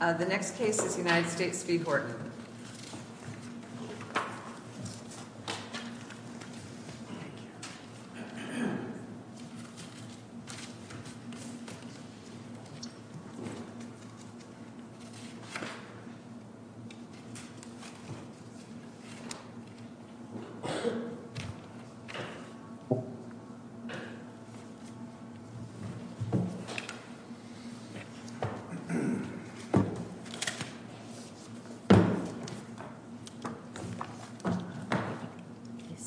The next case is United States v. Horton.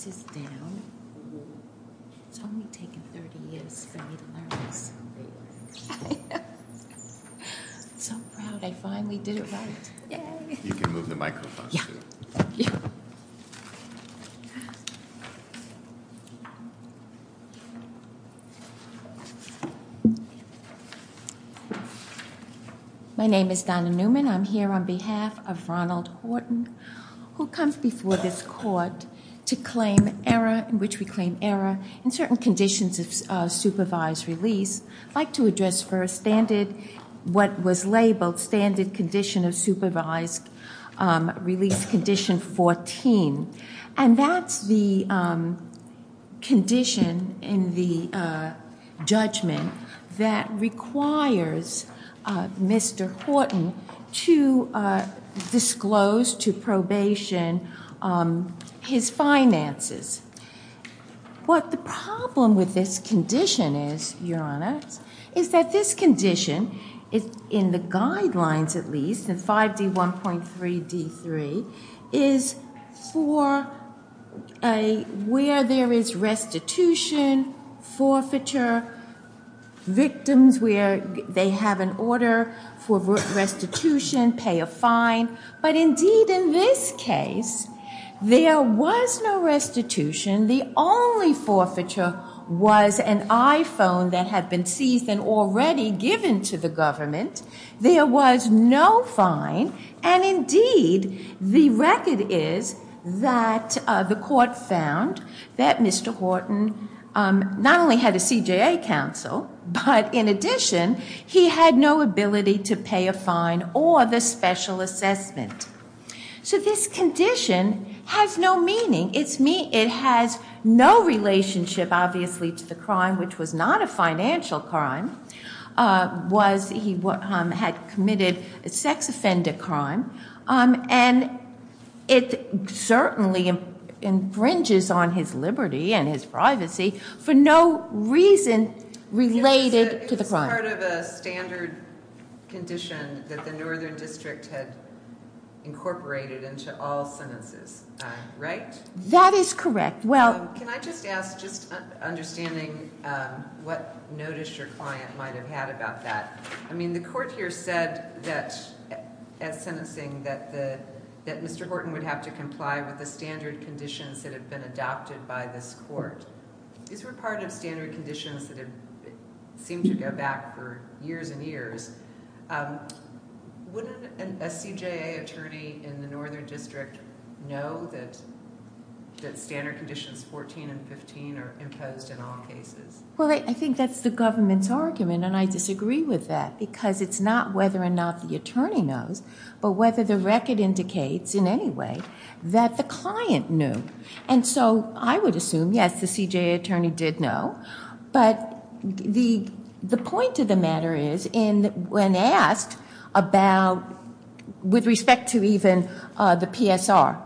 This is down. It's only taken 30 years for me to learn this. I'm so proud. I finally did it right. Yay! You can move the microphone. Yeah. Thank you. My name is Donna Newman. I'm here on behalf of Ronald Horton, who comes before this court to claim error, in which we claim error in certain conditions of supervised release. I'd like to address first what was labeled standard condition of supervised release, which is condition 14. And that's the condition in the judgment that requires Mr. Horton to disclose to probation his finances. What the problem with this condition is, Your Honor, is that this condition, in the guidelines at least in 5D1.3D3, is for where there is restitution, forfeiture, victims where they have an order for restitution, pay a fine. But indeed in this case, there was no restitution. The only forfeiture was an iPhone that had been seized and already given to the government. There was no fine. And indeed, the record is that the court found that Mr. Horton not only had a CJA counsel, but in addition, he had no ability to pay a fine or the special assessment. So this condition has no meaning. It has no relationship, obviously, to the crime, which was not a financial crime. He had committed a sex offender crime. And it certainly infringes on his liberty and his privacy for no reason related to the crime. It was part of a standard condition that the Northern District had incorporated into all sentences, right? That is correct. Can I just ask, just understanding what notice your client might have had about that. I mean, the court here said that, as sentencing, that Mr. Horton would have to comply with the standard conditions that had been adopted by this court. These were part of standard conditions that seemed to go back for years and years. Wouldn't a CJA attorney in the Northern District know that standard conditions 14 and 15 are imposed in all cases? Well, I think that's the government's argument, and I disagree with that, because it's not whether or not the attorney knows, but whether the record indicates in any way that the client knew. And so I would assume, yes, the CJA attorney did know. But the point of the matter is, when asked about, with respect to even the PSR,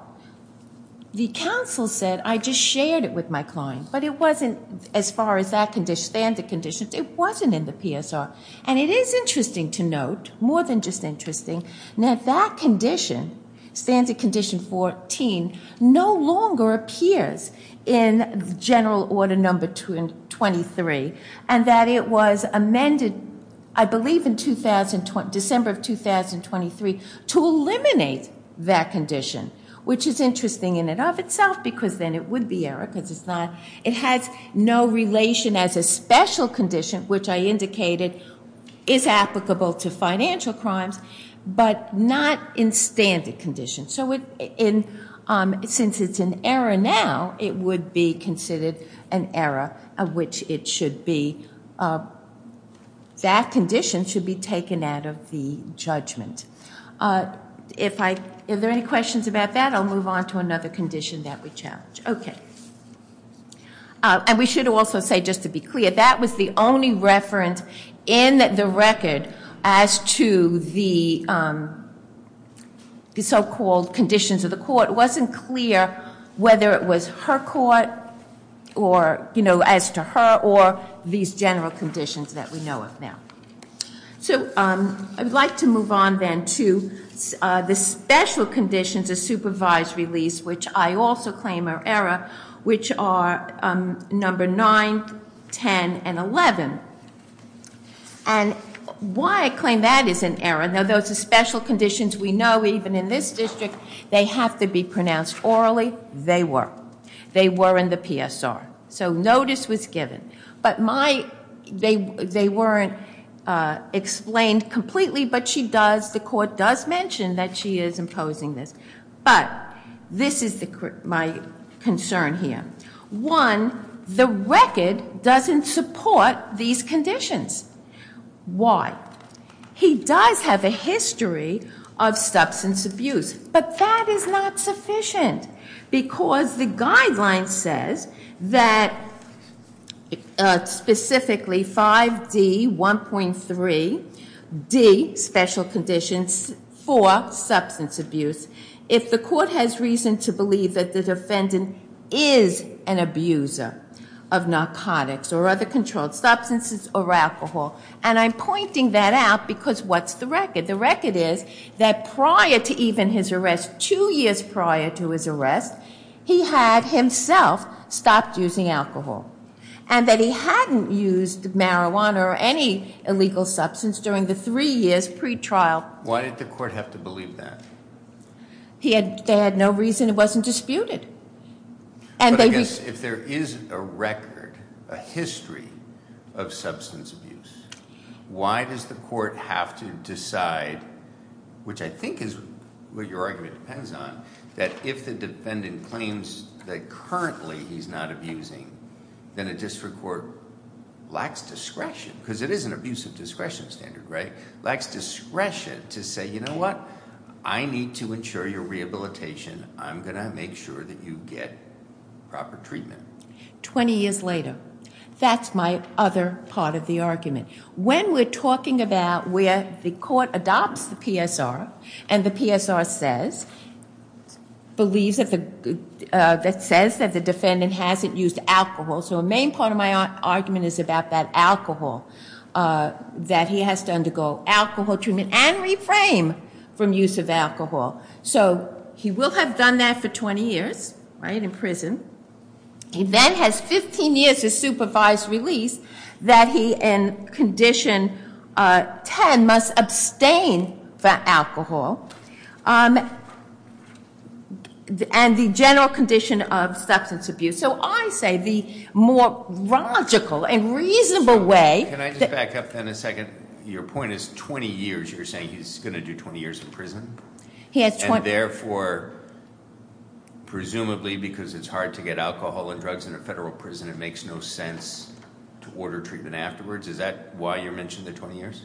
the counsel said, I just shared it with my client. But it wasn't as far as that standard condition. It wasn't in the PSR. And it is interesting to note, more than just interesting, that that condition, standard condition 14, no longer appears in general order number 23, and that it was amended, I believe in December of 2023, to eliminate that condition, which is interesting in and of itself, because then it would be error, because it's not. It has no relation as a special condition, which I indicated is applicable to financial crimes. But not in standard condition. So since it's in error now, it would be considered an error of which it should be. That condition should be taken out of the judgment. Are there any questions about that? I'll move on to another condition that we challenge. Okay. And we should also say, just to be clear, that was the only reference in the record as to the so-called conditions of the court. It wasn't clear whether it was her court, or as to her, or these general conditions that we know of now. So I would like to move on then to the special conditions of supervised release, which I also claim are error, which are number 9, 10, and 11. And why I claim that is an error. Now, those are special conditions we know even in this district. They have to be pronounced orally. They were. They were in the PSR. So notice was given. But they weren't explained completely, but the court does mention that she is imposing this. But this is my concern here. One, the record doesn't support these conditions. Why? He does have a history of substance abuse, but that is not sufficient, because the guideline says that specifically 5D1.3D, special conditions for substance abuse, if the court has reason to believe that the defendant is an abuser of narcotics or other controlled substances or alcohol, and I'm pointing that out because what's the record? The record is that prior to even his arrest, two years prior to his arrest, he had himself stopped using alcohol, and that he hadn't used marijuana or any illegal substance during the three years pre-trial. Why did the court have to believe that? They had no reason. It wasn't disputed. But I guess if there is a record, a history of substance abuse, why does the court have to decide, which I think is what your argument depends on, that if the defendant claims that currently he's not abusing, then a district court lacks discretion, because it is an abusive discretion standard, right? Lacks discretion to say, you know what? I need to ensure your rehabilitation. I'm going to make sure that you get proper treatment. Twenty years later, that's my other part of the argument. When we're talking about where the court adopts the PSR and the PSR says that the defendant hasn't used alcohol, so a main part of my argument is about that alcohol, that he has to undergo alcohol treatment and reframe from use of alcohol. So he will have done that for 20 years, right, in prison, and then has 15 years of supervised release that he, in condition 10, must abstain from alcohol and the general condition of substance abuse. So I say the more logical and reasonable way- Can I just back up then a second? Your point is 20 years. You're saying he's going to do 20 years in prison? And therefore, presumably because it's hard to get alcohol and drugs in a federal prison, it makes no sense to order treatment afterwards? Is that why you're mentioning the 20 years?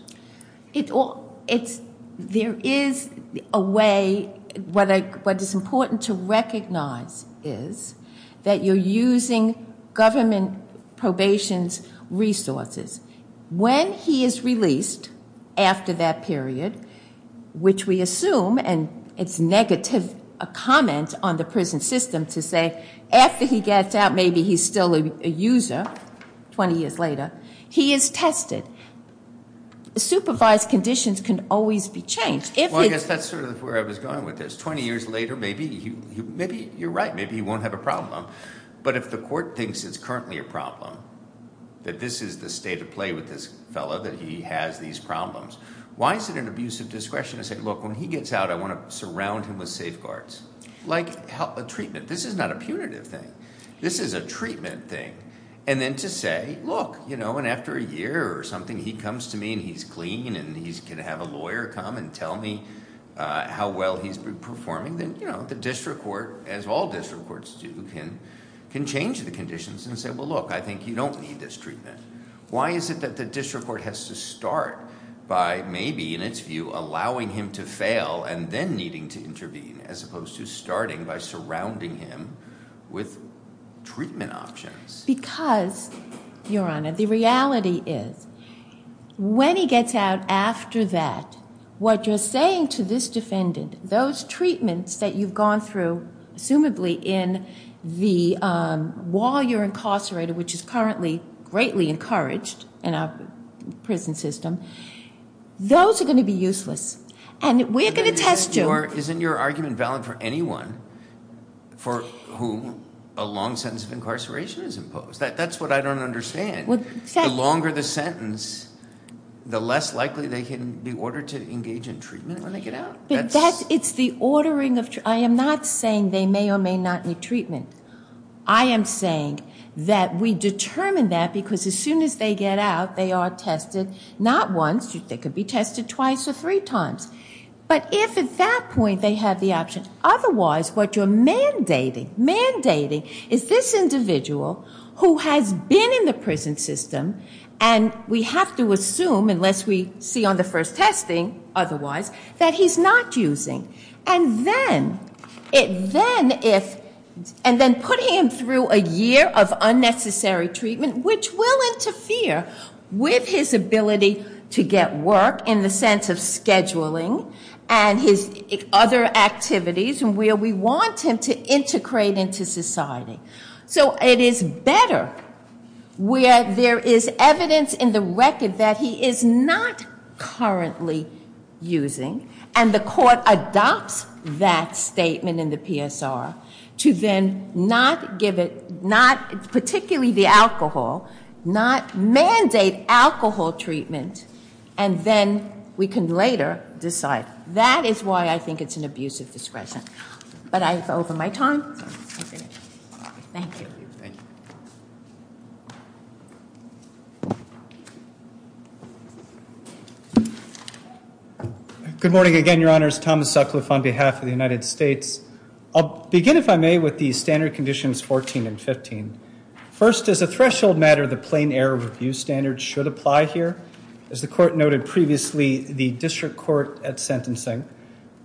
There is a way. What is important to recognize is that you're using government probation's resources. When he is released after that period, which we assume, and it's negative comment on the prison system to say, after he gets out, maybe he's still a user 20 years later, he is tested. Supervised conditions can always be changed. Well, I guess that's sort of where I was going with this. 20 years later, maybe you're right. Maybe he won't have a problem. But if the court thinks it's currently a problem, that this is the state of play with this fellow, that he has these problems, why is it an abuse of discretion to say, look, when he gets out, I want to surround him with safeguards? Like a treatment. This is not a punitive thing. This is a treatment thing. And then to say, look, and after a year or something, he comes to me and he's clean and he can have a lawyer come and tell me how well he's been performing, then, you know, the district court, as all district courts do, can change the conditions and say, well, look, I think you don't need this treatment. Why is it that the district court has to start by maybe, in its view, allowing him to fail and then needing to intervene, as opposed to starting by surrounding him with treatment options? Because, Your Honor, the reality is when he gets out after that, what you're saying to this defendant, those treatments that you've gone through, assumably in the while you're incarcerated, which is currently greatly encouraged in our prison system, those are going to be useless. And we're going to test you. Isn't your argument valid for anyone for whom a long sentence of incarceration is imposed? That's what I don't understand. The longer the sentence, the less likely they can be ordered to engage in treatment when they get out. It's the ordering of treatment. I am not saying they may or may not need treatment. I am saying that we determine that because as soon as they get out, they are tested. Not once. They could be tested twice or three times. But if at that point they have the option, otherwise what you're mandating, is this individual who has been in the prison system, and we have to assume, unless we see on the first testing otherwise, that he's not using. And then putting him through a year of unnecessary treatment, which will interfere with his ability to get work in the sense of scheduling, and his other activities, where we want him to integrate into society. So it is better where there is evidence in the record that he is not currently using, and the court adopts that statement in the PSR, to then not give it, particularly the alcohol, not mandate alcohol treatment, and then we can later decide. That is why I think it's an abuse of discretion. But I have over my time. Thank you. Good morning again, Your Honors. Thomas Sucliffe on behalf of the United States. I'll begin, if I may, with the standard conditions 14 and 15. First, as a threshold matter, the plain error of abuse standards should apply here. As the court noted previously, the district court at sentencing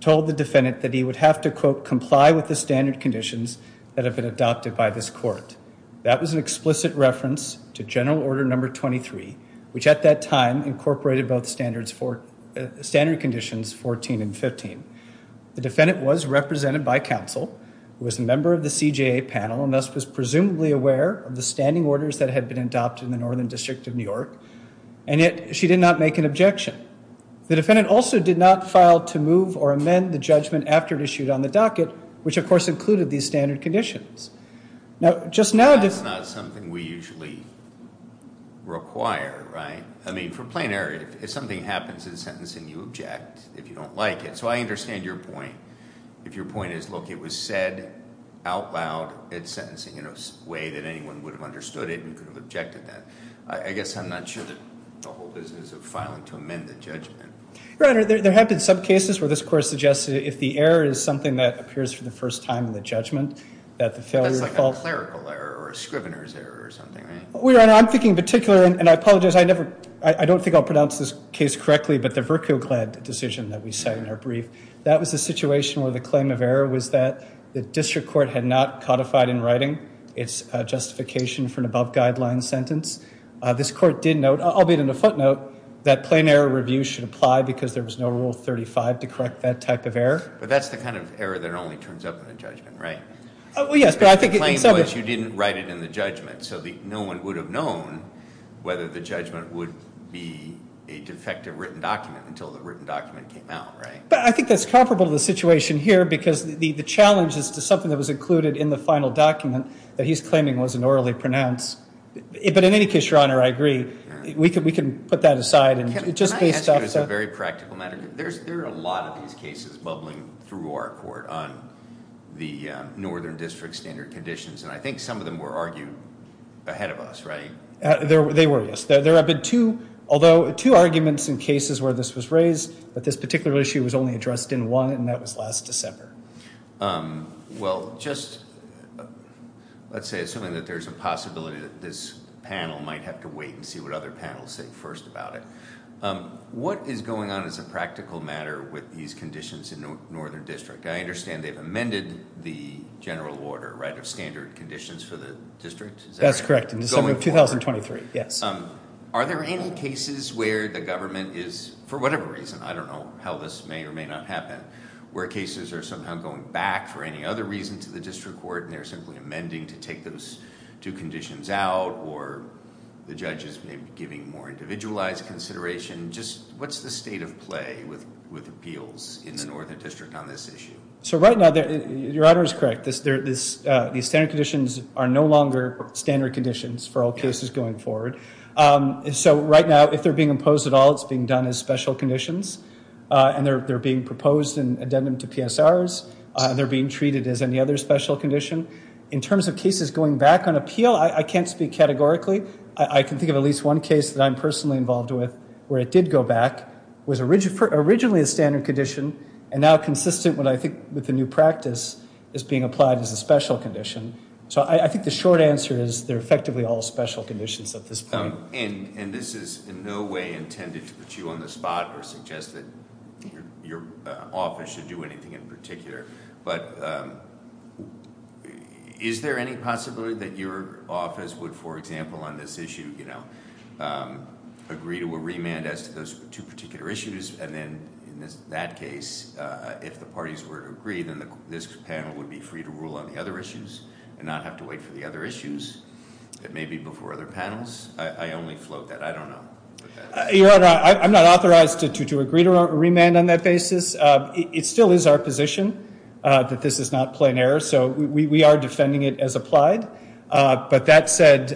told the defendant that he would have to, quote, comply with the standard conditions that have been adopted by this court. That was an explicit reference to general order number 23, which at that time incorporated both standard conditions 14 and 15. The defendant was represented by counsel, was a member of the CJA panel, and thus was presumably aware of the standing orders that had been adopted in the Northern District of New York, and yet she did not make an objection. The defendant also did not file to move or amend the judgment after it issued on the docket, which, of course, included these standard conditions. That's not something we usually require, right? I mean, for plain error, if something happens at a sentence and you object, if you don't like it, so I understand your point. If your point is, look, it was said out loud at sentencing in a way that anyone would have understood it and could have objected to that, I guess I'm not sure that the whole business of filing to amend the judgment. Your Honor, there have been some cases where this court suggested if the error is something that appears for the first time in the judgment, that the failure of the fault. That's like a clerical error or a scrivener's error or something, right? Your Honor, I'm thinking in particular, and I apologize, I don't think I'll pronounce this case correctly, but the Verkuglad decision that we cite in our brief, that was a situation where the claim of error was that the district court had not codified in writing its justification for an above-guideline sentence. This court did note, albeit in a footnote, that plain error review should apply because there was no Rule 35 to correct that type of error. But that's the kind of error that only turns up in the judgment, right? Well, yes, but I think in some ways you didn't write it in the judgment, so no one would have known whether the judgment would be a defective written document until the written document came out, right? But I think that's comparable to the situation here because the challenge as to something that was included in the final document that he's claiming wasn't orally pronounced. But in any case, Your Honor, I agree. We can put that aside. Can I ask you as a very practical matter? There are a lot of these cases bubbling through our court on the northern district standard conditions, and I think some of them were argued ahead of us, right? They were, yes. There have been two arguments in cases where this was raised, but this particular issue was only addressed in one, and that was last December. Well, just let's say assuming that there's a possibility that this panel might have to wait and see what other panels say first about it. What is going on as a practical matter with these conditions in northern district? I understand they've amended the general order, right, of standard conditions for the district? That's correct, in December of 2023, yes. Are there any cases where the government is, for whatever reason, I don't know how this may or may not happen, where cases are somehow going back for any other reason to the district court and they're simply amending to take those two conditions out or the judges may be giving more individualized consideration? Just what's the state of play with appeals in the northern district on this issue? So right now, Your Honor is correct. These standard conditions are no longer standard conditions for all cases going forward. So right now, if they're being imposed at all, it's being done as special conditions, and they're being proposed in addendum to PSRs. They're being treated as any other special condition. In terms of cases going back on appeal, I can't speak categorically. I can think of at least one case that I'm personally involved with where it did go back, was originally a standard condition, and now consistent with the new practice is being applied as a special condition. So I think the short answer is they're effectively all special conditions at this point. And this is in no way intended to put you on the spot or suggest that your office should do anything in particular, but is there any possibility that your office would, for example, on this issue, agree to a remand as to those two particular issues, and then in that case, if the parties were to agree, then this panel would be free to rule on the other issues and not have to wait for the other issues that may be before other panels? I only float that. I don't know. Your Honor, I'm not authorized to agree to a remand on that basis. It still is our position that this is not plain error, so we are defending it as applied. But that said,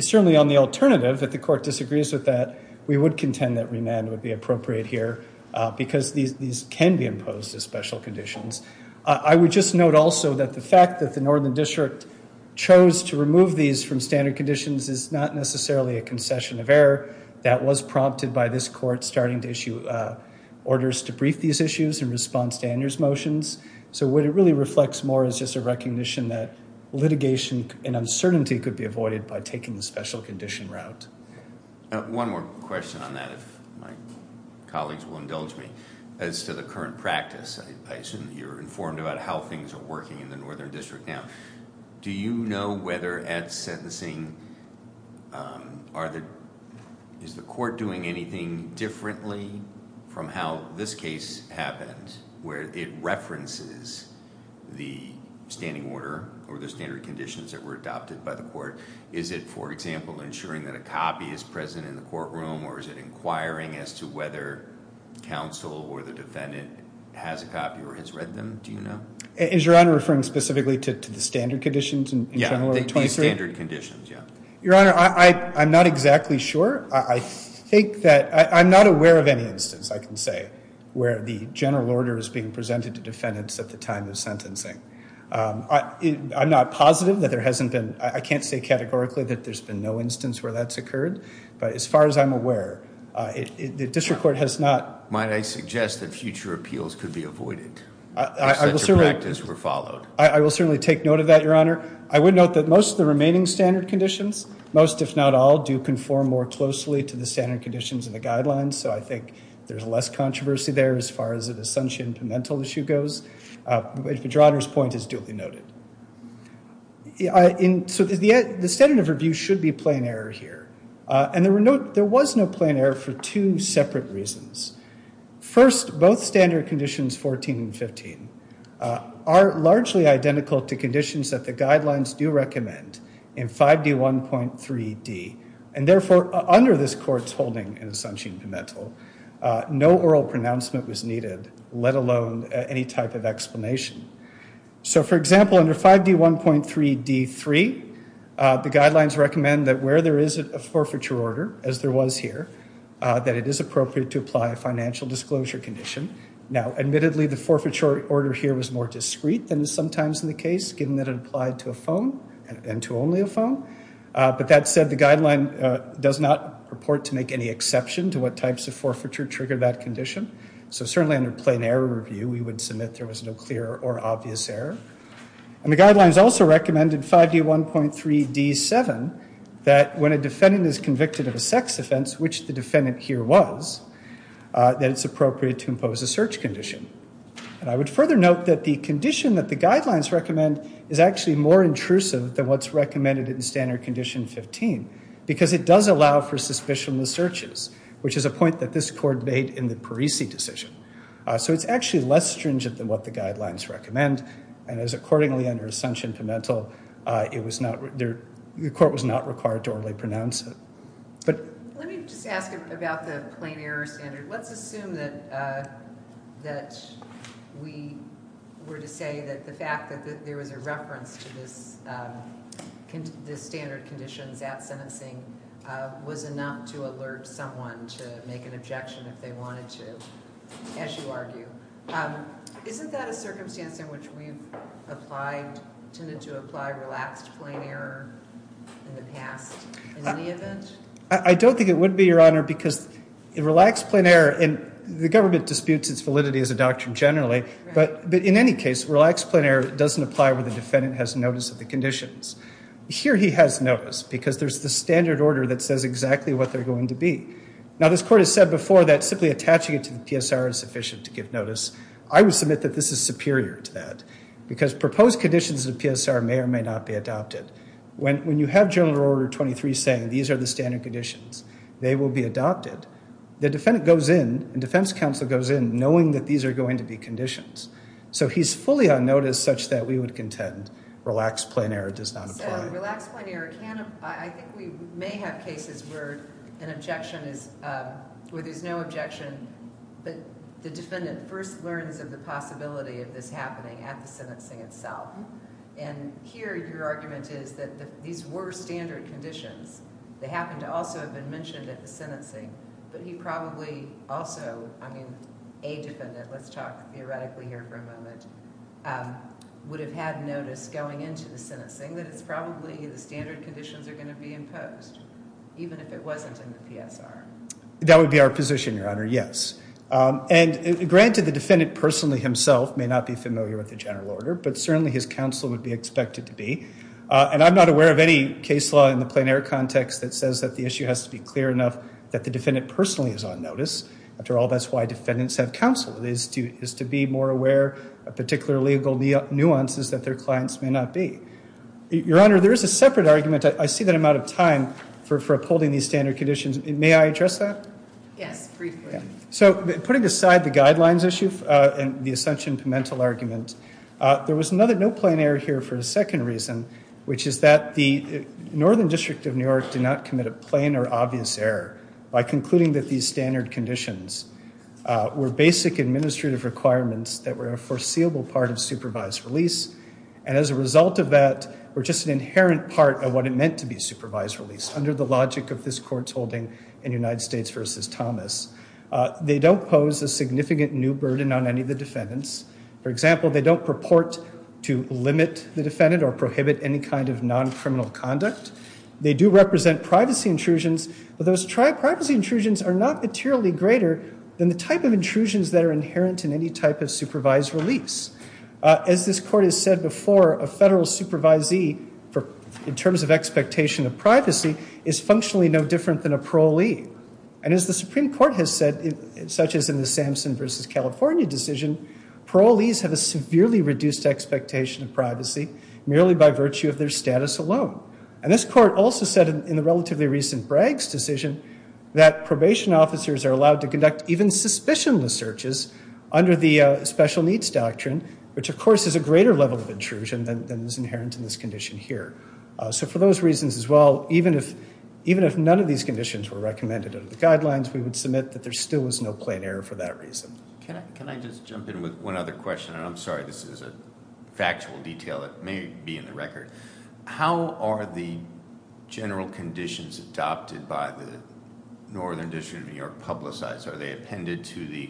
certainly on the alternative, if the court disagrees with that, we would contend that remand would be appropriate here because these can be imposed as special conditions. I would just note also that the fact that the Northern District chose to remove these from standard conditions is not necessarily a concession of error. That was prompted by this court starting to issue orders to brief these issues in response to Andrew's motions. So what it really reflects more is just a recognition that litigation and uncertainty could be avoided by taking the special condition route. One more question on that, if my colleagues will indulge me. As to the current practice, you're informed about how things are working in the Northern District now. Do you know whether at sentencing, is the court doing anything differently from how this case happened, where it references the standing order or the standard conditions that were adopted by the court? Or is it, for example, ensuring that a copy is present in the courtroom or is it inquiring as to whether counsel or the defendant has a copy or has read them? Do you know? Is Your Honor referring specifically to the standard conditions in General Order 23? Yeah, the standard conditions, yeah. Your Honor, I'm not exactly sure. I think that I'm not aware of any instance, I can say, where the general order is being presented to defendants at the time of sentencing. I'm not positive that there hasn't been, I can't say categorically that there's been no instance where that's occurred. But as far as I'm aware, the district court has not... Might I suggest that future appeals could be avoided? I will certainly... If such a practice were followed. I will certainly take note of that, Your Honor. I would note that most of the remaining standard conditions, most if not all, do conform more closely to the standard conditions in the guidelines. So I think there's less controversy there as far as the Sunshine Pimental issue goes. But Your Honor's point is duly noted. So the standard of review should be plain error here. And there was no plain error for two separate reasons. First, both standard conditions 14 and 15 are largely identical to conditions that the guidelines do recommend in 5D1.3D. And therefore, under this court's holding in the Sunshine Pimental, no oral pronouncement was needed, let alone any type of explanation. So, for example, under 5D1.3D.3, the guidelines recommend that where there is a forfeiture order, as there was here, that it is appropriate to apply a financial disclosure condition. Now, admittedly, the forfeiture order here was more discreet than is sometimes the case, given that it applied to a phone and to only a phone. But that said, the guideline does not purport to make any exception to what types of forfeiture trigger that condition. So certainly under plain error review, we would submit there was no clear or obvious error. And the guidelines also recommend in 5D1.3D.7 that when a defendant is convicted of a sex offense, which the defendant here was, that it's appropriate to impose a search condition. And I would further note that the condition that the guidelines recommend is actually more intrusive than what's recommended in standard condition 15, because it does allow for suspicionless searches, which is a point that this court made in the Parisi decision. So it's actually less stringent than what the guidelines recommend, and as accordingly under Sunshine Pimental, the court was not required to orally pronounce it. Let me just ask about the plain error standard. Let's assume that we were to say that the fact that there was a reference to this standard conditions at sentencing was not to alert someone to make an objection if they wanted to, as you argue. Isn't that a circumstance in which we've applied, tended to apply relaxed plain error in the past in any event? I don't think it would be, Your Honor, because relaxed plain error, and the government disputes its validity as a doctrine generally, but in any case, relaxed plain error doesn't apply when the defendant has notice of the conditions. Here he has notice, because there's the standard order that says exactly what they're going to be. Now, this court has said before that simply attaching it to the PSR is sufficient to give notice. I would submit that this is superior to that, because proposed conditions of the PSR may or may not be adopted. When you have general order 23 saying these are the standard conditions, they will be adopted, the defendant goes in and defense counsel goes in knowing that these are going to be conditions. So he's fully on notice such that we would contend relaxed plain error does not apply. So relaxed plain error can apply. I think we may have cases where an objection is, where there's no objection, but the defendant first learns of the possibility of this happening at the sentencing itself. And here your argument is that these were standard conditions. They happen to also have been mentioned at the sentencing, but he probably also, I mean, a defendant, let's talk theoretically here for a moment, would have had notice going into the sentencing that it's probably the standard conditions are going to be imposed, even if it wasn't in the PSR. That would be our position, Your Honor, yes. And granted, the defendant personally himself may not be familiar with the general order, but certainly his counsel would be expected to be. And I'm not aware of any case law in the plain error context that says that the issue has to be clear enough that the defendant personally is on notice. After all, that's why defendants have counsel, is to be more aware of particular legal nuances that their clients may not be. Your Honor, there is a separate argument. I see that I'm out of time for upholding these standard conditions. May I address that? Yes, briefly. So putting aside the guidelines issue and the assumption to mental argument, there was no plain error here for a second reason, which is that the Northern District of New York did not commit a plain or obvious error by concluding that these standard conditions were basic administrative requirements that were a foreseeable part of supervised release, and as a result of that were just an inherent part of what it meant to be supervised release, under the logic of this Court's holding in United States v. Thomas. They don't pose a significant new burden on any of the defendants. For example, they don't purport to limit the defendant or prohibit any kind of non-criminal conduct. They do represent privacy intrusions, but those privacy intrusions are not materially greater than the type of intrusions that are inherent in any type of supervised release. As this Court has said before, a federal supervisee, in terms of expectation of privacy, is functionally no different than a parolee. And as the Supreme Court has said, such as in the Samson v. California decision, parolees have a severely reduced expectation of privacy, merely by virtue of their status alone. And this Court also said in the relatively recent Bragg's decision that probation officers are allowed to conduct even suspicionless searches under the special needs doctrine, which of course is a greater level of intrusion than is inherent in this condition here. So for those reasons as well, even if none of these conditions were recommended under the guidelines, we would submit that there still was no plain error for that reason. Can I just jump in with one other question? And I'm sorry, this is a factual detail that may be in the record. How are the general conditions adopted by the Northern District of New York publicized? Are they appended to the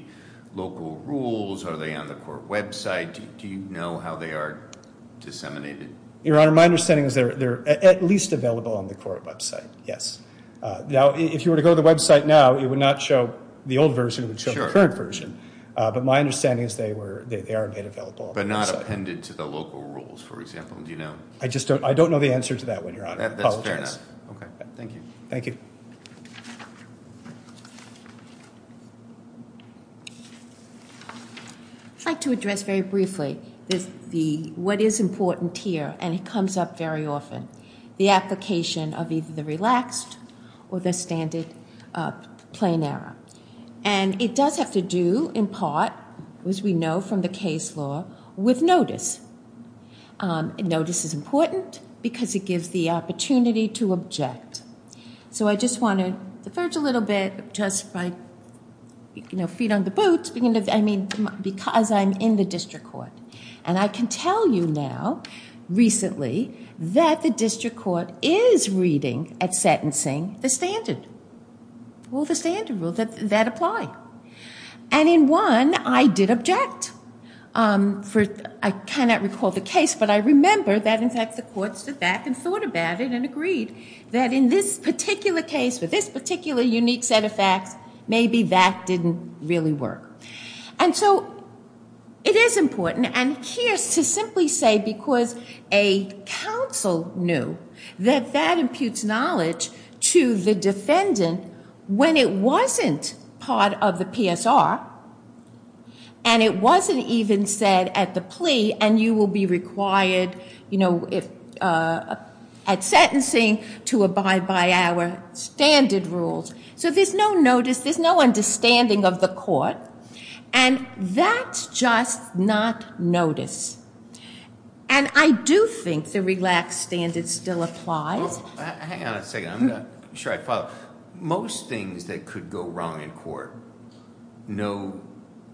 local rules? Are they on the court website? Do you know how they are disseminated? Your Honor, my understanding is they're at least available on the court website, yes. Now, if you were to go to the website now, it would not show the old version. It would show the current version. But my understanding is they are available. But not appended to the local rules, for example. Do you know? I don't know the answer to that one, Your Honor. That's fair enough. Okay, thank you. Thank you. I'd like to address very briefly what is important here, and it comes up very often, the application of either the relaxed or the standard plain error. And it does have to do, in part, as we know from the case law, with notice. Notice is important because it gives the opportunity to object. So I just want to diverge a little bit just by, you know, feet on the boots, because I'm in the district court. And I can tell you now, recently, that the district court is reading at sentencing the standard. All the standard rules that apply. And in one, I did object. I cannot recall the case, but I remember that, in fact, the courts did that and thought about it and agreed that in this particular case, for this particular unique set of facts, maybe that didn't really work. And so it is important. And here's to simply say because a counsel knew that that imputes knowledge to the defendant when it wasn't part of the PSR, and it wasn't even said at the plea, and you will be required at sentencing to abide by our standard rules. So there's no notice. There's no understanding of the court. And that's just not notice. And I do think the relaxed standard still applies. Hang on a second. I'm not sure I follow. Most things that could go wrong in court, no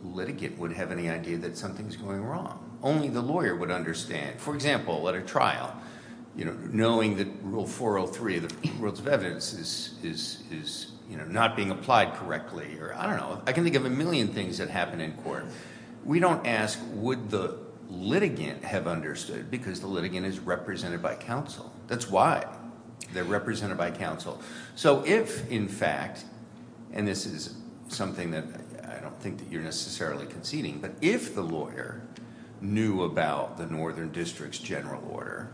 litigant would have any idea that something's going wrong. Only the lawyer would understand. For example, at a trial, you know, knowing that Rule 403 of the Rules of Evidence is, you know, not being applied correctly, or I don't know. I can think of a million things that happen in court. We don't ask would the litigant have understood because the litigant is represented by counsel. That's why. They're represented by counsel. So if, in fact, and this is something that I don't think that you're necessarily conceding, but if the lawyer knew about the Northern District's general order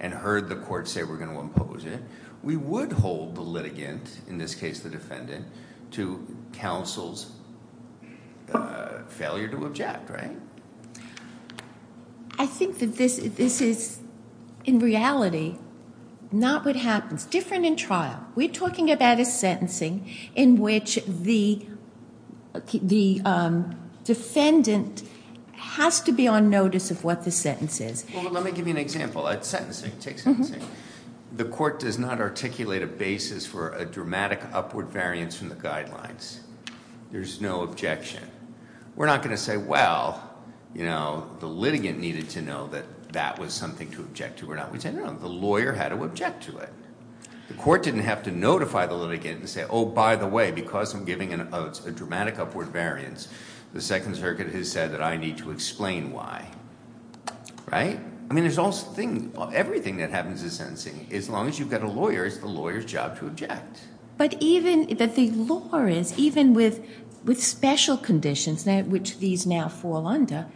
and heard the court say we're going to impose it, we would hold the litigant, in this case the defendant, to counsel's failure to object, right? I think that this is, in reality, not what happens. Different in trial. We're talking about a sentencing in which the defendant has to be on notice of what the sentence is. Well, let me give you an example. Sentencing, take sentencing. The court does not articulate a basis for a dramatic upward variance from the guidelines. There's no objection. We're not going to say, well, you know, the litigant needed to know that that was something to object to or not. We'd say, no, no, the lawyer had to object to it. The court didn't have to notify the litigant and say, oh, by the way, because I'm giving a dramatic upward variance, the Second Circuit has said that I need to explain why, right? I mean, everything that happens in sentencing, as long as you've got a lawyer, it's the lawyer's job to object. But even that the law is, even with special conditions in which these now fall under,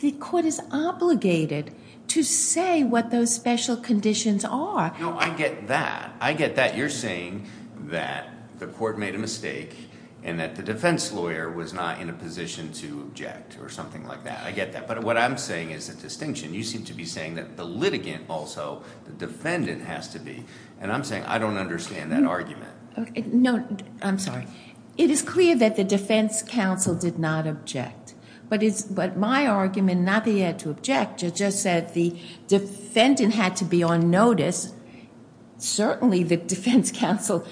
the court is obligated to say what those special conditions are. No, I get that. I get that. You're saying that the court made a mistake and that the defense lawyer was not in a position to object or something like that. I get that. But what I'm saying is a distinction. You seem to be saying that the litigant also, the defendant has to be. And I'm saying I don't understand that argument. No, I'm sorry. It is clear that the defense counsel did not object. But my argument, not that he had to object, it just said the defendant had to be on notice. Certainly the defense counsel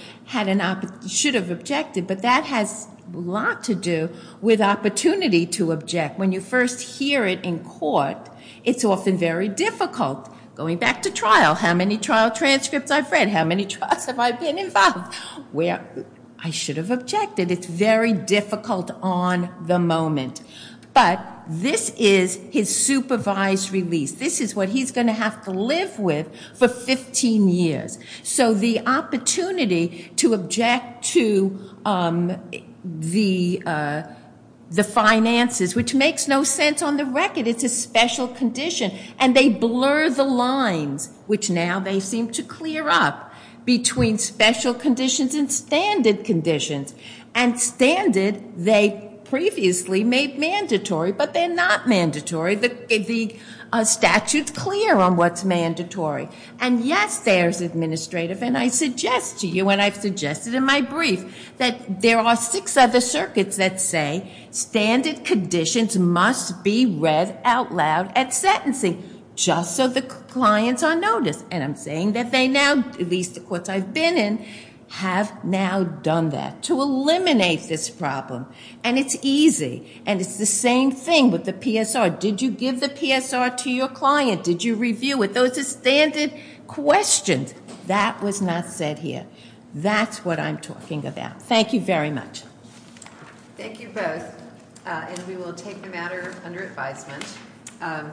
should have objected, but that has a lot to do with opportunity to object. When you first hear it in court, it's often very difficult. Going back to trial, how many trial transcripts I've read? How many trials have I been involved? Well, I should have objected. It's very difficult on the moment. But this is his supervised release. This is what he's going to have to live with for 15 years. So the opportunity to object to the finances, which makes no sense on the record. It's a special condition. And they blur the lines, which now they seem to clear up, between special conditions and standard conditions. And standard they previously made mandatory, but they're not mandatory. The statute's clear on what's mandatory. And, yes, there's administrative. And I suggest to you, and I've suggested in my brief, that there are six other circuits that say, standard conditions must be read out loud at sentencing, just so the clients are noticed. And I'm saying that they now, at least the courts I've been in, have now done that to eliminate this problem. And it's easy. And it's the same thing with the PSR. Did you give the PSR to your client? Did you review it? Those are standard questions. That was not said here. That's what I'm talking about. Thank you very much. Thank you both. And we will take the matter under advisement.